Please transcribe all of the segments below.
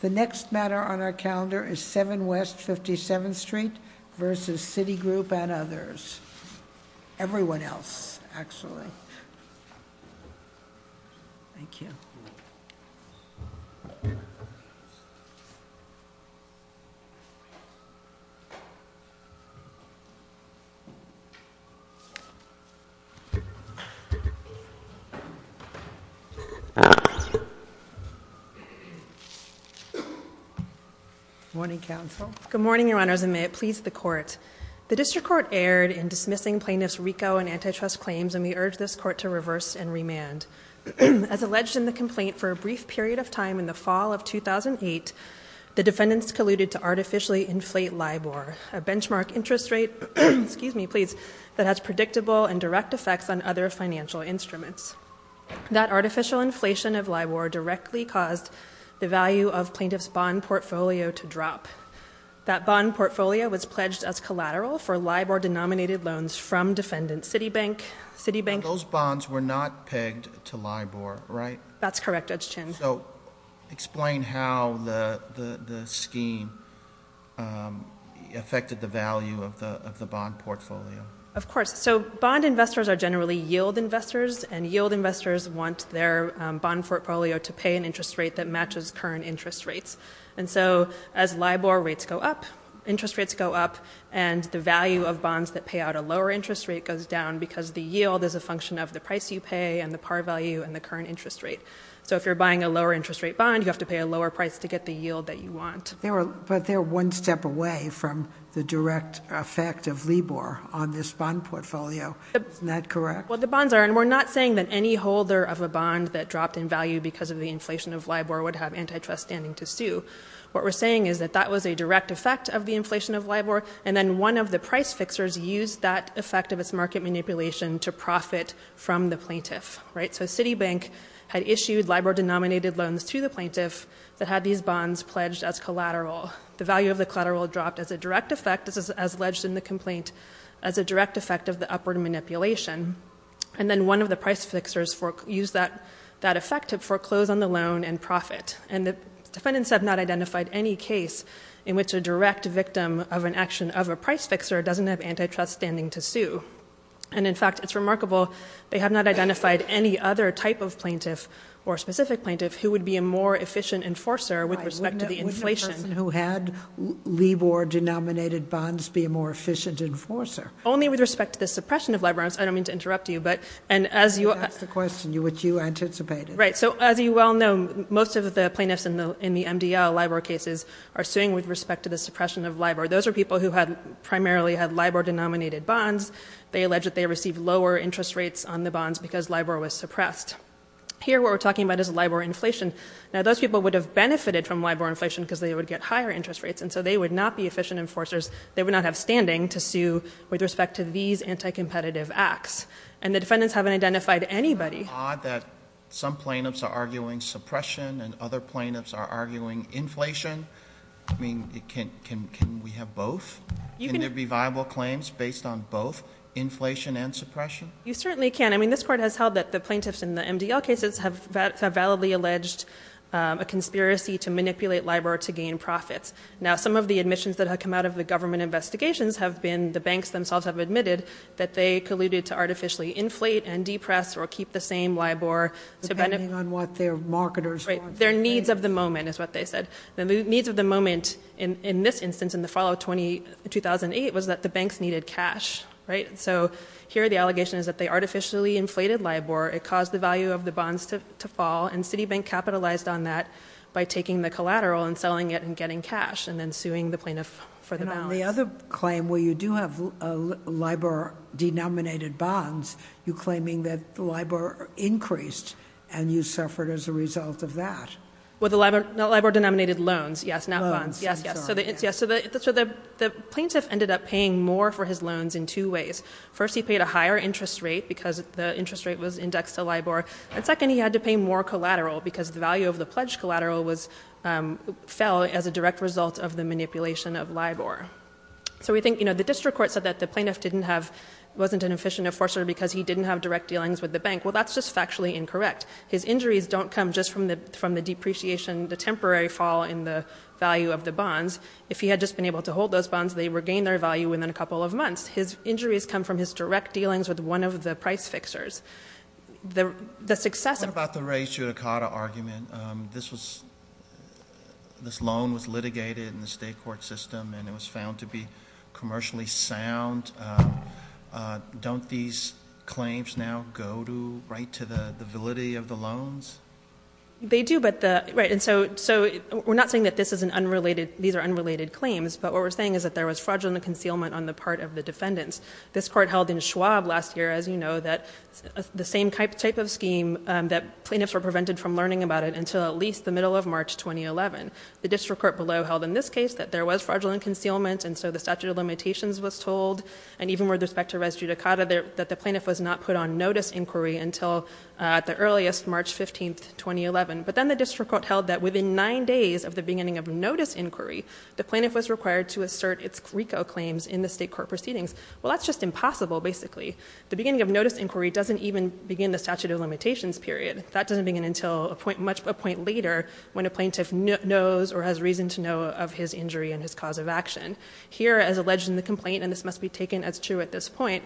The next matter on our calendar is 7 West 57th Street versus Citigroup and others. Everyone else, actually. Thank you. Good morning, Counsel. Good morning, Your Honors, and may it please the Court. The District Court erred in dismissing plaintiffs' RICO and antitrust claims, and we urge this Court to reverse and remand. As alleged in the complaint, for a brief period of time in the fall of 2008, the defendants colluded to artificially inflate LIBOR, a benchmark interest rate that has predictable and direct effects on other financial instruments. That artificial inflation of LIBOR directly caused the value of plaintiffs' bond portfolio to drop. That bond portfolio was pledged as collateral for LIBOR-denominated loans from defendants. Citibank... Those bonds were not pegged to LIBOR, right? That's correct, Judge Chin. Explain how the scheme affected the value of the bond portfolio. Of course. So bond investors are generally yield investors, and yield investors want their bond portfolio to pay an interest rate that matches current interest rates. And so as LIBOR rates go up, interest rates go up, and the value of bonds that pay out a lower interest rate goes down because the yield is a function of the price you pay and the par value and the current interest rate. So if you're buying a lower interest rate bond, you have to pay a lower price to get the yield that you want. But they're one step away from the direct effect of LIBOR on this bond portfolio. Isn't that correct? Well, the bonds are. And we're not saying that any holder of a bond that dropped in value because of the inflation of LIBOR would have antitrust standing to sue. What we're saying is that that was a direct effect of the inflation of LIBOR, and then one of the price fixers used that effect of its market manipulation to profit from the plaintiff, right? So Citibank had issued LIBOR-denominated loans to the plaintiff that had these bonds pledged as collateral. The value of the collateral dropped as a direct effect, as alleged in the complaint, as a direct effect of the upward manipulation. And then one of the price fixers used that effect to foreclose on the loan and profit. And the defendants have not identified any case in which a direct victim of an action of a price fixer doesn't have antitrust standing to sue. And in fact, it's remarkable, they have not identified any other type of plaintiff or specific plaintiff who would be a more efficient enforcer with respect to the inflation. Wouldn't a person who had LIBOR-denominated bonds be a more efficient enforcer? Only with respect to the suppression of LIBOR. I don't mean to interrupt you, but, and as you... That's the question which you anticipated. Right. So as you well know, most of the plaintiffs in the MDL LIBOR cases are suing with respect to the suppression of LIBOR. Those are people who primarily had LIBOR-denominated bonds. They allege that they received lower interest rates on the bonds because LIBOR was suppressed. Here, what we're talking about is LIBOR inflation. Now, those people would have benefited from LIBOR inflation because they would get higher interest rates. And so they would not be efficient enforcers. They would not have standing to sue with respect to these anti-competitive acts. And the defendants haven't identified anybody. Isn't it odd that some plaintiffs are arguing suppression and other plaintiffs are arguing inflation? I mean, can we have both? Can there be viable claims based on both, inflation and suppression? You certainly can. I mean, this Court has held that the plaintiffs in the MDL cases have validly alleged a conspiracy to manipulate LIBOR to gain profits. Now, some of the admissions that have come out of the government investigations have been the banks themselves have admitted that they colluded to artificially inflate and depress or keep the same LIBOR to benefit... Depending on what their marketers want. Their needs of the moment is what they said. The needs of the moment in this instance in the fall of 2008 was that the banks needed cash, right? So here the allegation is that they artificially inflated LIBOR. It caused the value of the bonds to fall. And Citibank capitalized on that by taking the collateral and selling it and getting cash and then suing the plaintiff for the balance. And the other claim where you do have LIBOR-denominated bonds, you're claiming that LIBOR increased and you suffered as a result of that. Well, the LIBOR-denominated loans, yes, not bonds. Yes, yes. So the plaintiff ended up paying more for his loans in two ways. First, he paid a higher interest rate because the interest rate was indexed to LIBOR. And second, he had to pay more collateral because the value of the pledged collateral fell as a direct result of the manipulation of LIBOR. So we think the district court said that the plaintiff wasn't an efficient enforcer because he didn't have direct dealings with the bank. Well, that's just factually incorrect. His injuries don't come just from the depreciation, the temporary fall in the value of the bonds. If he had just been able to hold those bonds, they would gain their value within a couple of months. His injuries come from his direct dealings with one of the price fixers. The success of- What about the Ray Giudicata argument? This loan was litigated in the state court system and it was found to be commercially sound. Don't these claims now go right to the validity of the loans? They do. And so we're not saying that these are unrelated claims. But what we're saying is that there was fraudulent concealment on the part of the defendants. This court held in Schwab last year, as you know, that the same type of scheme, that plaintiffs were prevented from learning about it until at least the middle of March 2011. The district court below held in this case that there was fraudulent concealment, and so the statute of limitations was told, and even with respect to Ray Giudicata, that the plaintiff was not put on notice inquiry until at the earliest, March 15, 2011. But then the district court held that within nine days of the beginning of notice inquiry, the plaintiff was required to assert its RICO claims in the state court proceedings. Well, that's just impossible, basically. The beginning of notice inquiry doesn't even begin the statute of limitations period. That doesn't begin until a point later when a plaintiff knows or has reason to know of his injury and his cause of action. Here, as alleged in the complaint, and this must be taken as true at this point,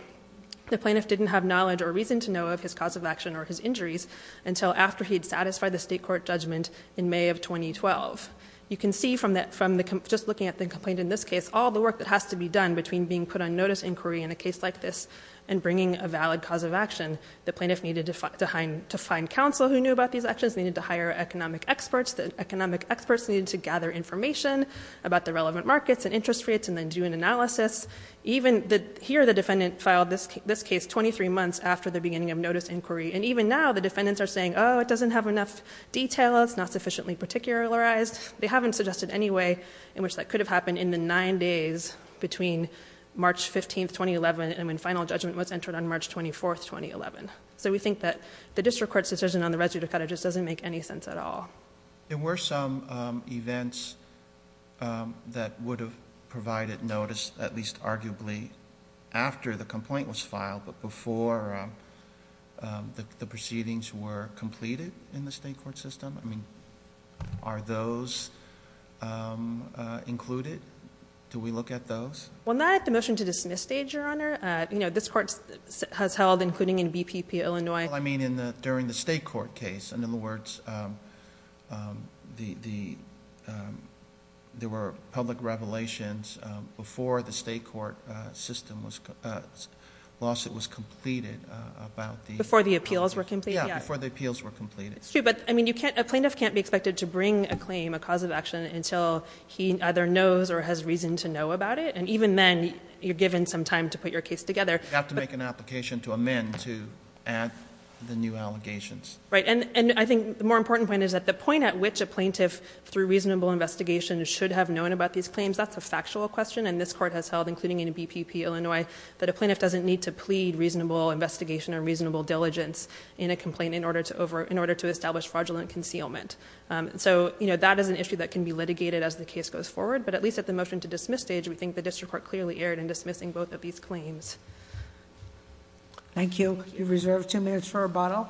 the plaintiff didn't have knowledge or reason to know of his cause of action or his injuries until after he had satisfied the state court judgment in May of 2012. You can see from just looking at the complaint in this case, all the work that has to be done between being put on notice inquiry in a case like this and bringing a valid cause of action. The plaintiff needed to find counsel who knew about these actions, needed to hire economic experts, the economic experts needed to gather information about the relevant markets and interest rates and then do an analysis. Here, the defendant filed this case 23 months after the beginning of notice inquiry, and even now the defendants are saying, oh, it doesn't have enough detail, it's not sufficiently particularized. They haven't suggested any way in which that could have happened in the 9 days between March 15, 2011 and when final judgment was entered on March 24, 2011. So we think that the district court's decision on the residue to cut it just doesn't make any sense at all. There were some events that would have provided notice, at least arguably after the complaint was filed, but before the proceedings were completed in the state court system? I mean, are those included? Do we look at those? Well, not at the motion to dismiss stage, Your Honor. You know, this court has held, including in BPP Illinois. Well, I mean during the state court case. In other words, there were public revelations before the state court system was... lawsuit was completed about the... Before the appeals were completed? Yeah, before the appeals were completed. It's true, but a plaintiff can't be expected to bring a claim, a cause of action, until he either knows or has reason to know about it, and even then you're given some time to put your case together. You have to make an application to amend to add the new allegations. Right, and I think the more important point is that the point at which a plaintiff, through reasonable investigation, should have known about these claims, that's a factual question, and this court has held, including in BPP Illinois, that a plaintiff doesn't need to plead reasonable investigation or reasonable diligence in a complaint in order to establish fraudulent concealment. So, you know, that is an issue that can be litigated as the case goes forward, but at least at the motion to dismiss stage, we think the district court clearly erred in dismissing both of these claims. Thank you. We reserve two minutes for rebuttal.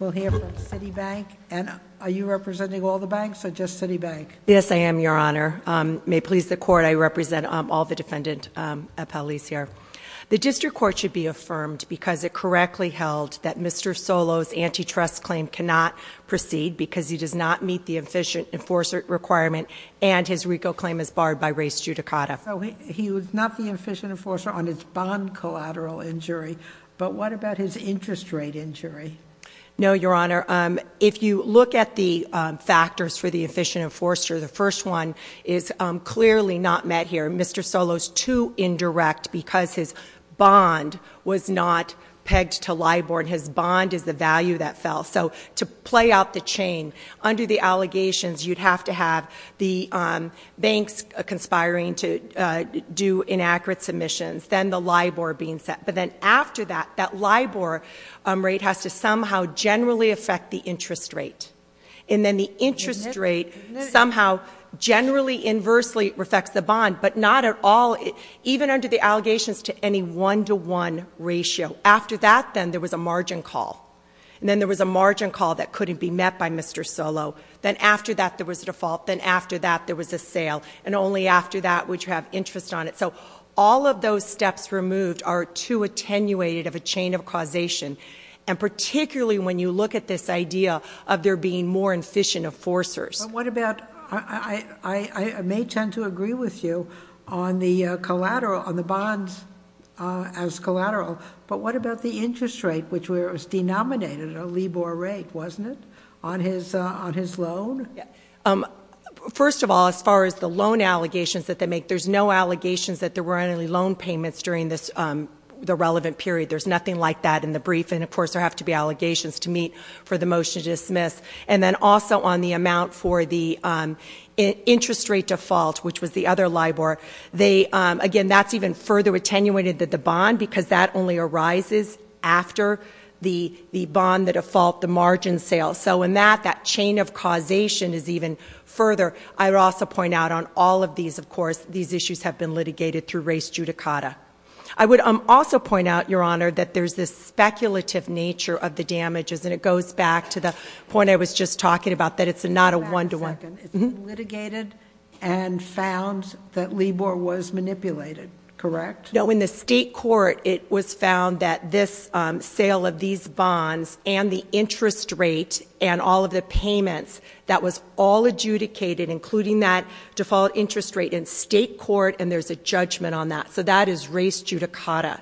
We'll hear from Citibank, and are you representing all the banks or just Citibank? Yes, I am, Your Honor. May it please the court, I represent all the defendant appellees here. The district court should be affirmed because it correctly held that Mr. Solo's antitrust claim cannot proceed because he does not meet the efficient enforcer requirement and his RICO claim is barred by race judicata. So he was not the efficient enforcer on his bond collateral injury, but what about his interest rate injury? No, Your Honor. If you look at the factors for the efficient enforcer, the first one is clearly not met here. Mr. Solo's too indirect because his bond was not pegged to LIBOR. His bond is the value that fell. So to play out the chain, under the allegations, you'd have to have the banks conspiring to do inaccurate submissions, then the LIBOR being set. But then after that, that LIBOR rate has to somehow generally affect the interest rate. And then the interest rate somehow generally inversely affects the bond, but not at all, even under the allegations, to any one-to-one ratio. After that, then, there was a margin call. And then there was a margin call that couldn't be met by Mr. Solo. Then after that, there was a default. Then after that, there was a sale. And only after that would you have interest on it. So all of those steps removed are too attenuated of a chain of causation, and particularly when you look at this idea of there being more efficient enforcers. But what about, I may tend to agree with you on the collateral, on the bonds as collateral, but what about the interest rate, which was denominated a LIBOR rate, wasn't it, on his loan? First of all, as far as the loan allegations that they make, there's no allegations that there were any loan payments during the relevant period. There's nothing like that in the brief. And, of course, there have to be allegations to meet for the motion to dismiss. And then also on the amount for the interest rate default, which was the other LIBOR, again, that's even further attenuated than the bond because that only arises after the bond, the default, the margin sale. So in that, that chain of causation is even further. I would also point out on all of these, of course, these issues have been litigated through race judicata. I would also point out, Your Honor, that there's this speculative nature of the damages, and it goes back to the point I was just talking about, that it's not a one-to-one. It's been litigated and found that LIBOR was manipulated, correct? No, in the state court it was found that this sale of these bonds and the interest rate and all of the payments, that was all adjudicated, including that default interest rate in state court, and there's a judgment on that. So that is race judicata.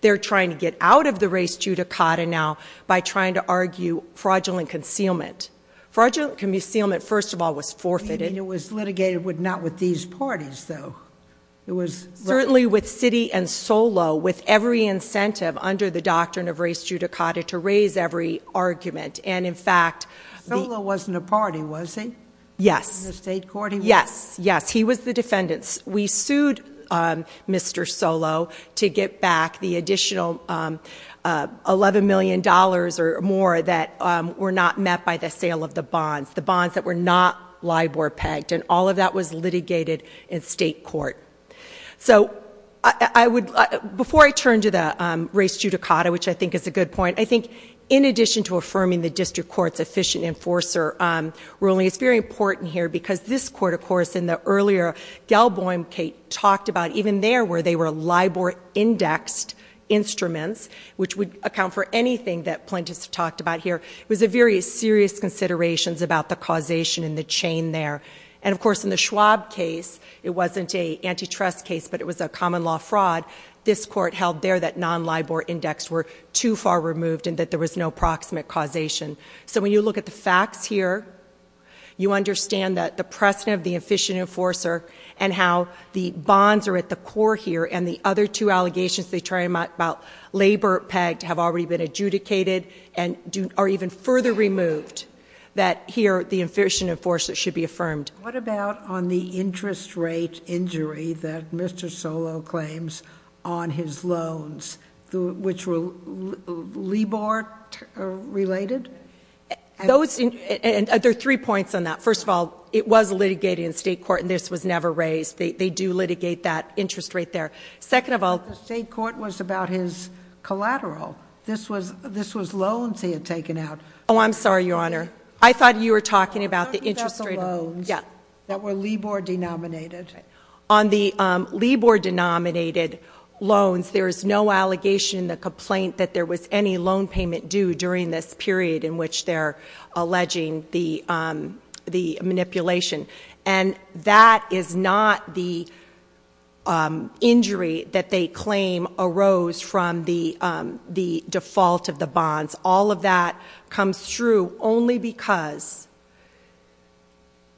They're trying to get out of the race judicata now by trying to argue fraudulent concealment. Fraudulent concealment, first of all, was forfeited. And it was litigated not with these parties, though. Certainly with Citi and Solo, with every incentive under the doctrine of race judicata to raise every argument. Solo wasn't a party, was he? Yes. In the state court he was? Yes, yes, he was the defendant. We sued Mr. Solo to get back the additional $11 million or more that were not met by the sale of the bonds, the bonds that were not LIBOR-pegged, and all of that was litigated in state court. So before I turn to the race judicata, which I think is a good point, I think in addition to affirming the district court's efficient enforcer ruling, it's very important here because this court, of course, in the earlier Galboym case, talked about even there where they were LIBOR-indexed instruments, which would account for anything that plaintiffs have talked about here. It was a very serious consideration about the causation and the chain there. And, of course, in the Schwab case, it wasn't an antitrust case, but it was a common law fraud. This court held there that non-LIBOR-indexed were too far removed and that there was no proximate causation. So when you look at the facts here, you understand that the precedent of the efficient enforcer and how the bonds are at the core here and the other two allegations they try to make about labor-pegged have already been adjudicated and are even further removed, that here the efficient enforcer should be affirmed. What about on the interest rate injury that Mr. Solow claims on his loans, which were LIBOR-related? There are three points on that. First of all, it was litigated in state court, and this was never raised. They do litigate that interest rate there. The state court was about his collateral. This was loans he had taken out. Oh, I'm sorry, Your Honor. I thought you were talking about the interest rate. The loans that were LIBOR-denominated. On the LIBOR-denominated loans, there is no allegation in the complaint that there was any loan payment due during this period in which they're alleging the manipulation. And that is not the injury that they claim arose from the default of the bonds. All of that comes through only because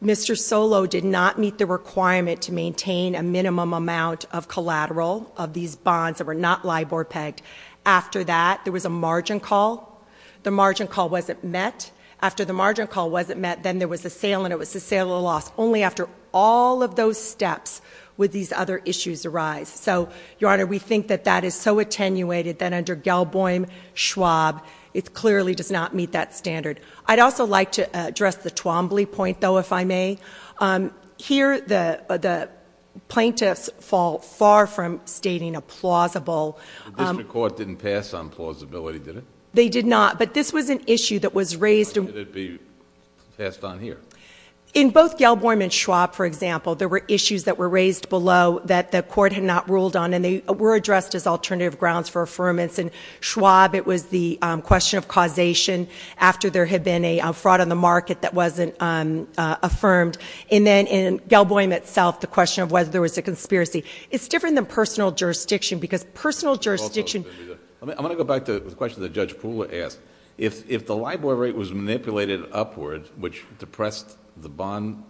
Mr. Solow did not meet the requirement to maintain a minimum amount of collateral of these bonds that were not LIBOR-pegged. After that, there was a margin call. The margin call wasn't met. After the margin call wasn't met, then there was a sale, and it was a sale or loss. Only after all of those steps would these other issues arise. So, Your Honor, we think that that is so attenuated that under Gelboim-Schwab, it clearly does not meet that standard. I'd also like to address the Twombly point, though, if I may. Here, the plaintiffs fall far from stating a plausible. The district court didn't pass on plausibility, did it? They did not, but this was an issue that was raised. Why did it be passed on here? In both Gelboim and Schwab, for example, there were issues that were raised below that the court had not ruled on, and they were addressed as alternative grounds for affirmance. In Schwab, it was the question of causation after there had been a fraud on the market that wasn't affirmed. And then in Gelboim itself, the question of whether there was a conspiracy. It's different than personal jurisdiction because personal jurisdiction... I want to go back to the question that Judge Poole asked. If the LIBOR rate was manipulated upward, which depressed the bond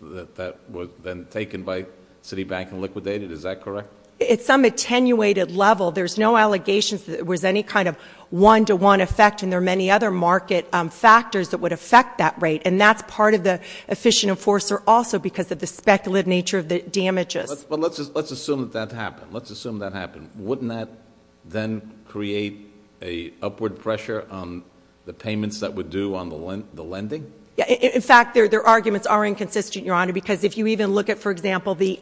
that was then taken by Citibank and liquidated, is that correct? At some attenuated level, there's no allegations that there was any kind of one-to-one effect, and there are many other market factors that would affect that rate. And that's part of the efficient enforcer also because of the speculative nature of the damages. But let's assume that that happened. Let's assume that happened. Wouldn't that then create an upward pressure on the payments that would do on the lending? In fact, their arguments are inconsistent, Your Honor, because if you even look at, for example, the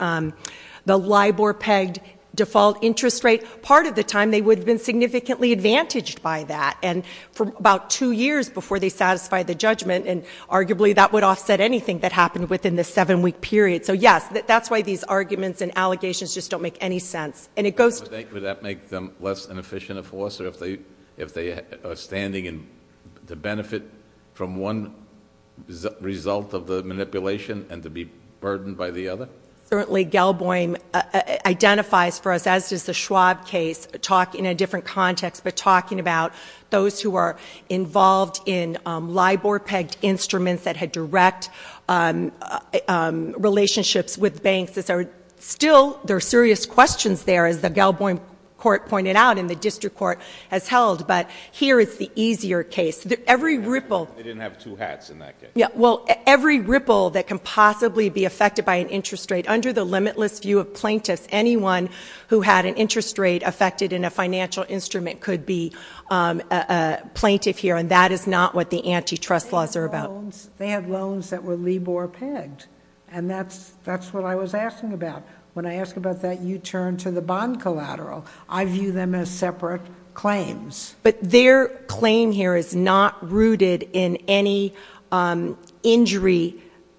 LIBOR-pegged default interest rate, part of the time they would have been significantly advantaged by that. And for about two years before they satisfied the judgment, and arguably that would offset anything that happened within the seven-week period. So, yes, that's why these arguments and allegations just don't make any sense. Would that make them less an efficient enforcer if they are standing to benefit from one result of the manipulation and to be burdened by the other? Certainly, Gelboim identifies for us, as does the Schwab case, talking in a different context, but talking about those who are involved in LIBOR-pegged instruments that had direct relationships with banks. Still, there are serious questions there, as the Gelboim court pointed out and the district court has held. But here is the easier case. Every ripple. They didn't have two hats in that case. Well, every ripple that can possibly be affected by an interest rate. Under the limitless view of plaintiffs, anyone who had an interest rate affected in a financial instrument could be a plaintiff here. And that is not what the antitrust laws are about. They had loans that were LIBOR-pegged, and that's what I was asking about. When I ask about that, you turn to the bond collateral. I view them as separate claims. But their claim here is not rooted in any injury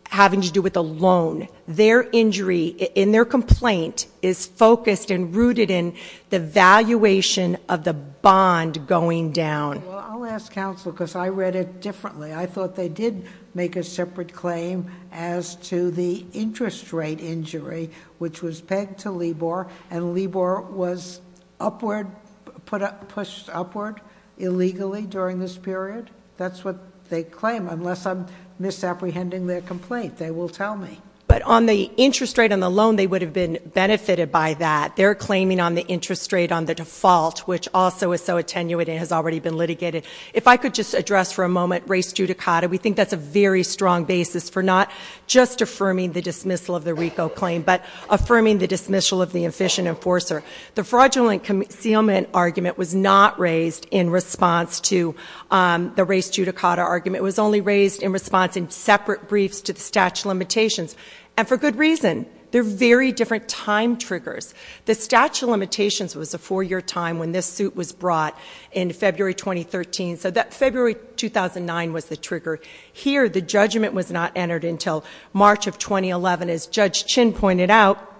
having to do with a loan. Their injury in their complaint is focused and rooted in the valuation of the bond going down. Well, I'll ask counsel, because I read it differently. I thought they did make a separate claim as to the interest rate injury, which was pegged to LIBOR, and LIBOR was pushed upward illegally during this period. That's what they claim, unless I'm misapprehending their complaint. They will tell me. But on the interest rate on the loan, they would have been benefited by that. They're claiming on the interest rate on the default, which also is so attenuated and has already been litigated. If I could just address for a moment race judicata, we think that's a very strong basis for not just affirming the dismissal of the RICO claim, but affirming the dismissal of the efficient enforcer. The fraudulent concealment argument was not raised in response to the race judicata argument. It was only raised in response in separate briefs to the statute of limitations, and for good reason. They're very different time triggers. The statute of limitations was a four-year time when this suit was brought in February 2013, so February 2009 was the trigger. Here, the judgment was not entered until March of 2011. As Judge Chin pointed out,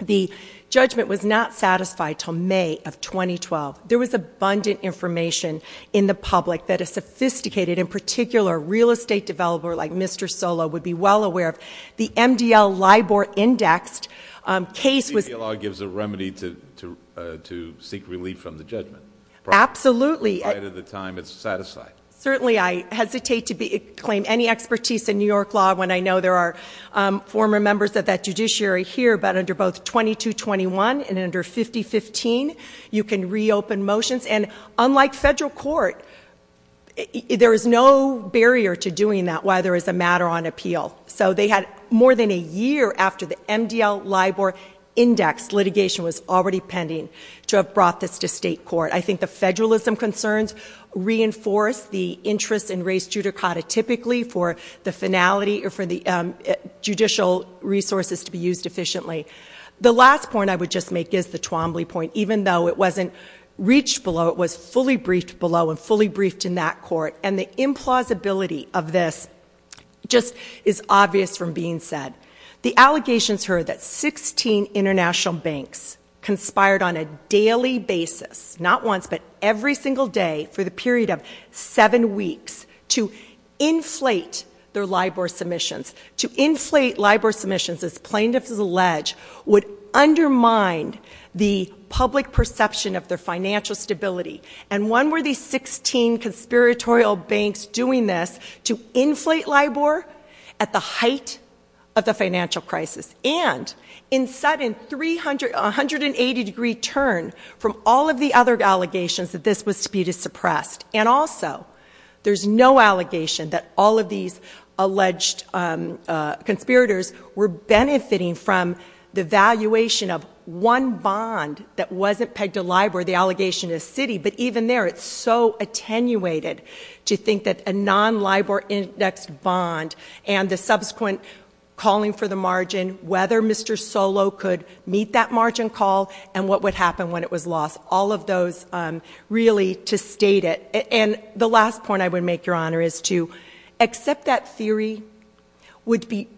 the judgment was not satisfied until May of 2012. There was abundant information in the public that a sophisticated, in particular, real estate developer like Mr. Solo, would be well aware of. The MDL-LIBOR-indexed case was- The appeal law gives a remedy to seek relief from the judgment. Absolutely. Provided the time is satisfied. Certainly. I hesitate to claim any expertise in New York law when I know there are former members of that judiciary here, but under both 2221 and under 5015, you can reopen motions. And unlike federal court, there is no barrier to doing that while there is a matter on appeal. So they had more than a year after the MDL-LIBOR-indexed litigation was already pending to have brought this to state court. I think the federalism concerns reinforce the interest in race judicata typically for the finality or for the judicial resources to be used efficiently. The last point I would just make is the Twombly point. Even though it wasn't reached below, it was fully briefed below and fully briefed in that court, and the implausibility of this just is obvious from being said. The allegations here are that 16 international banks conspired on a daily basis, not once, but every single day for the period of seven weeks to inflate their LIBOR submissions. To inflate LIBOR submissions, as plaintiffs allege, would undermine the public perception of their financial stability. And when were these 16 conspiratorial banks doing this to inflate LIBOR at the height of the financial crisis? And in sudden, a 180-degree turn from all of the other allegations that this was to be suppressed. And also, there's no allegation that all of these alleged conspirators were benefiting from the valuation of one bond that wasn't pegged to LIBOR, the allegation is city, but even there it's so attenuated to think that a non-LIBOR-indexed bond and the subsequent calling for the margin, whether Mr. Solow could meet that margin call and what would happen when it was lost, all of those really to state it. And the last point I would make, Your Honor, is to accept that theory would be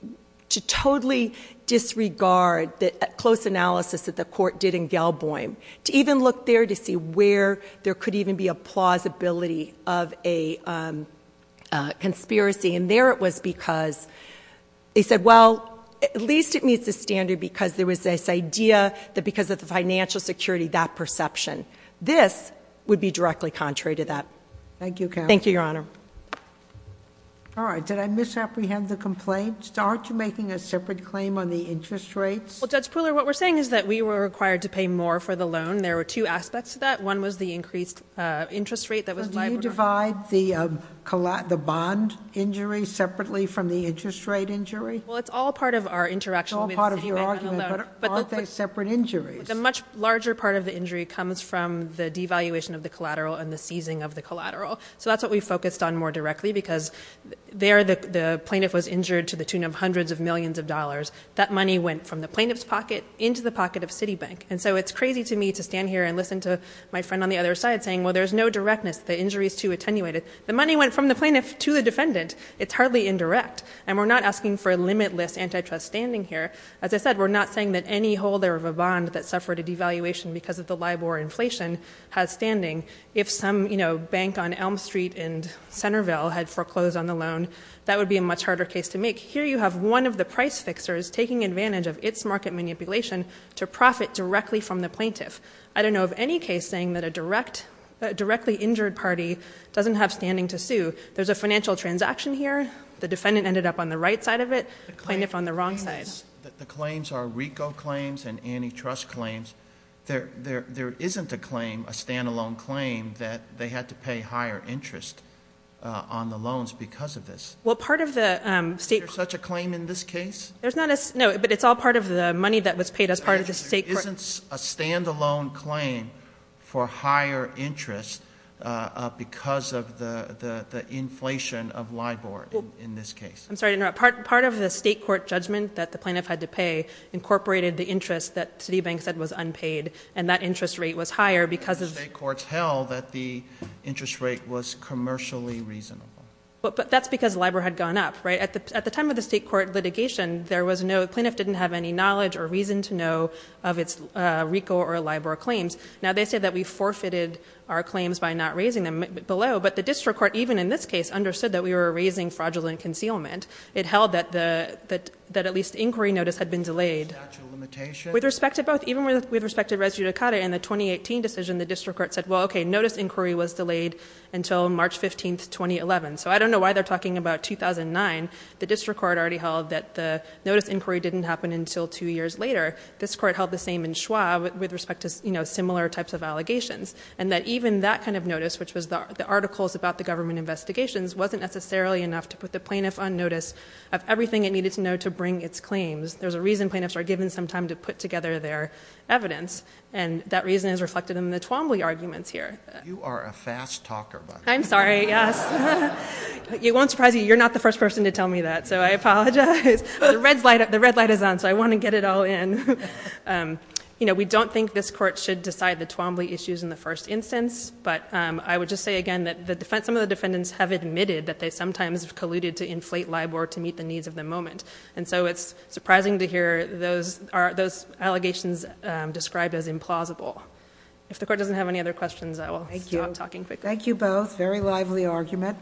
to totally disregard the close analysis that the court did in Gelboim. To even look there to see where there could even be a plausibility of a conspiracy. And there it was because they said, well, at least it meets the standard because there was this idea that because of the financial security, that perception. This would be directly contrary to that. Thank you, Counsel. Thank you, Your Honor. All right. Did I misapprehend the complaint? Aren't you making a separate claim on the interest rates? Well, Judge Pooler, what we're saying is that we were required to pay more for the loan. There were two aspects to that. One was the increased interest rate that was LIBOR. Do you divide the bond injury separately from the interest rate injury? Well, it's all part of our interaction. It's all part of your argument. But aren't they separate injuries? The much larger part of the injury comes from the devaluation of the collateral and the seizing of the collateral. So that's what we focused on more directly because there the plaintiff was injured to the tune of hundreds of millions of dollars. That money went from the plaintiff's pocket into the pocket of Citibank. And so it's crazy to me to stand here and listen to my friend on the other side saying, well, there's no directness. The injury is too attenuated. The money went from the plaintiff to the defendant. It's hardly indirect. And we're not asking for a limitless antitrust standing here. As I said, we're not saying that any holder of a bond that suffered a devaluation because of the LIBOR inflation has standing. If some bank on Elm Street in Centerville had foreclosed on the loan, that would be a much harder case to make. Here you have one of the price fixers taking advantage of its market manipulation to profit directly from the plaintiff. I don't know of any case saying that a directly injured party doesn't have standing to sue. There's a financial transaction here. The defendant ended up on the right side of it, the plaintiff on the wrong side. The claims are RICO claims and antitrust claims. There isn't a claim, a stand-alone claim, that they had to pay higher interest on the loans because of this. Is there such a claim in this case? No, but it's all part of the money that was paid as part of the state court. There isn't a stand-alone claim for higher interest because of the inflation of LIBOR in this case. I'm sorry to interrupt. Part of the state court judgment that the plaintiff had to pay incorporated the interest that Citibank said was unpaid, and that interest rate was higher because of— The state courts held that the interest rate was commercially reasonable. But that's because LIBOR had gone up. At the time of the state court litigation, the plaintiff didn't have any knowledge or reason to know of its RICO or LIBOR claims. Now, they say that we forfeited our claims by not raising them below, but the district court, even in this case, understood that we were raising fraudulent concealment. It held that at least inquiry notice had been delayed. With respect to both, even with respect to res judicata and the 2018 decision, the district court said, well, okay, notice inquiry was delayed until March 15, 2011. So I don't know why they're talking about 2009. The district court already held that the notice inquiry didn't happen until two years later. This court held the same in Schwab with respect to similar types of allegations, and that even that kind of notice, which was the articles about the government investigations, wasn't necessarily enough to put the plaintiff on notice of everything it needed to know to bring its claims. There's a reason plaintiffs are given some time to put together their evidence, and that reason is reflected in the Twombly arguments here. You are a fast talker, by the way. I'm sorry, yes. It won't surprise you. You're not the first person to tell me that, so I apologize. The red light is on, so I want to get it all in. We don't think this court should decide the Twombly issues in the first instance, but I would just say again that some of the defendants have admitted that they sometimes have colluded to inflate LIBOR to meet the needs of the moment, and so it's surprising to hear those allegations described as implausible. If the court doesn't have any other questions, I will stop talking quickly. Thank you both. Very lively argument.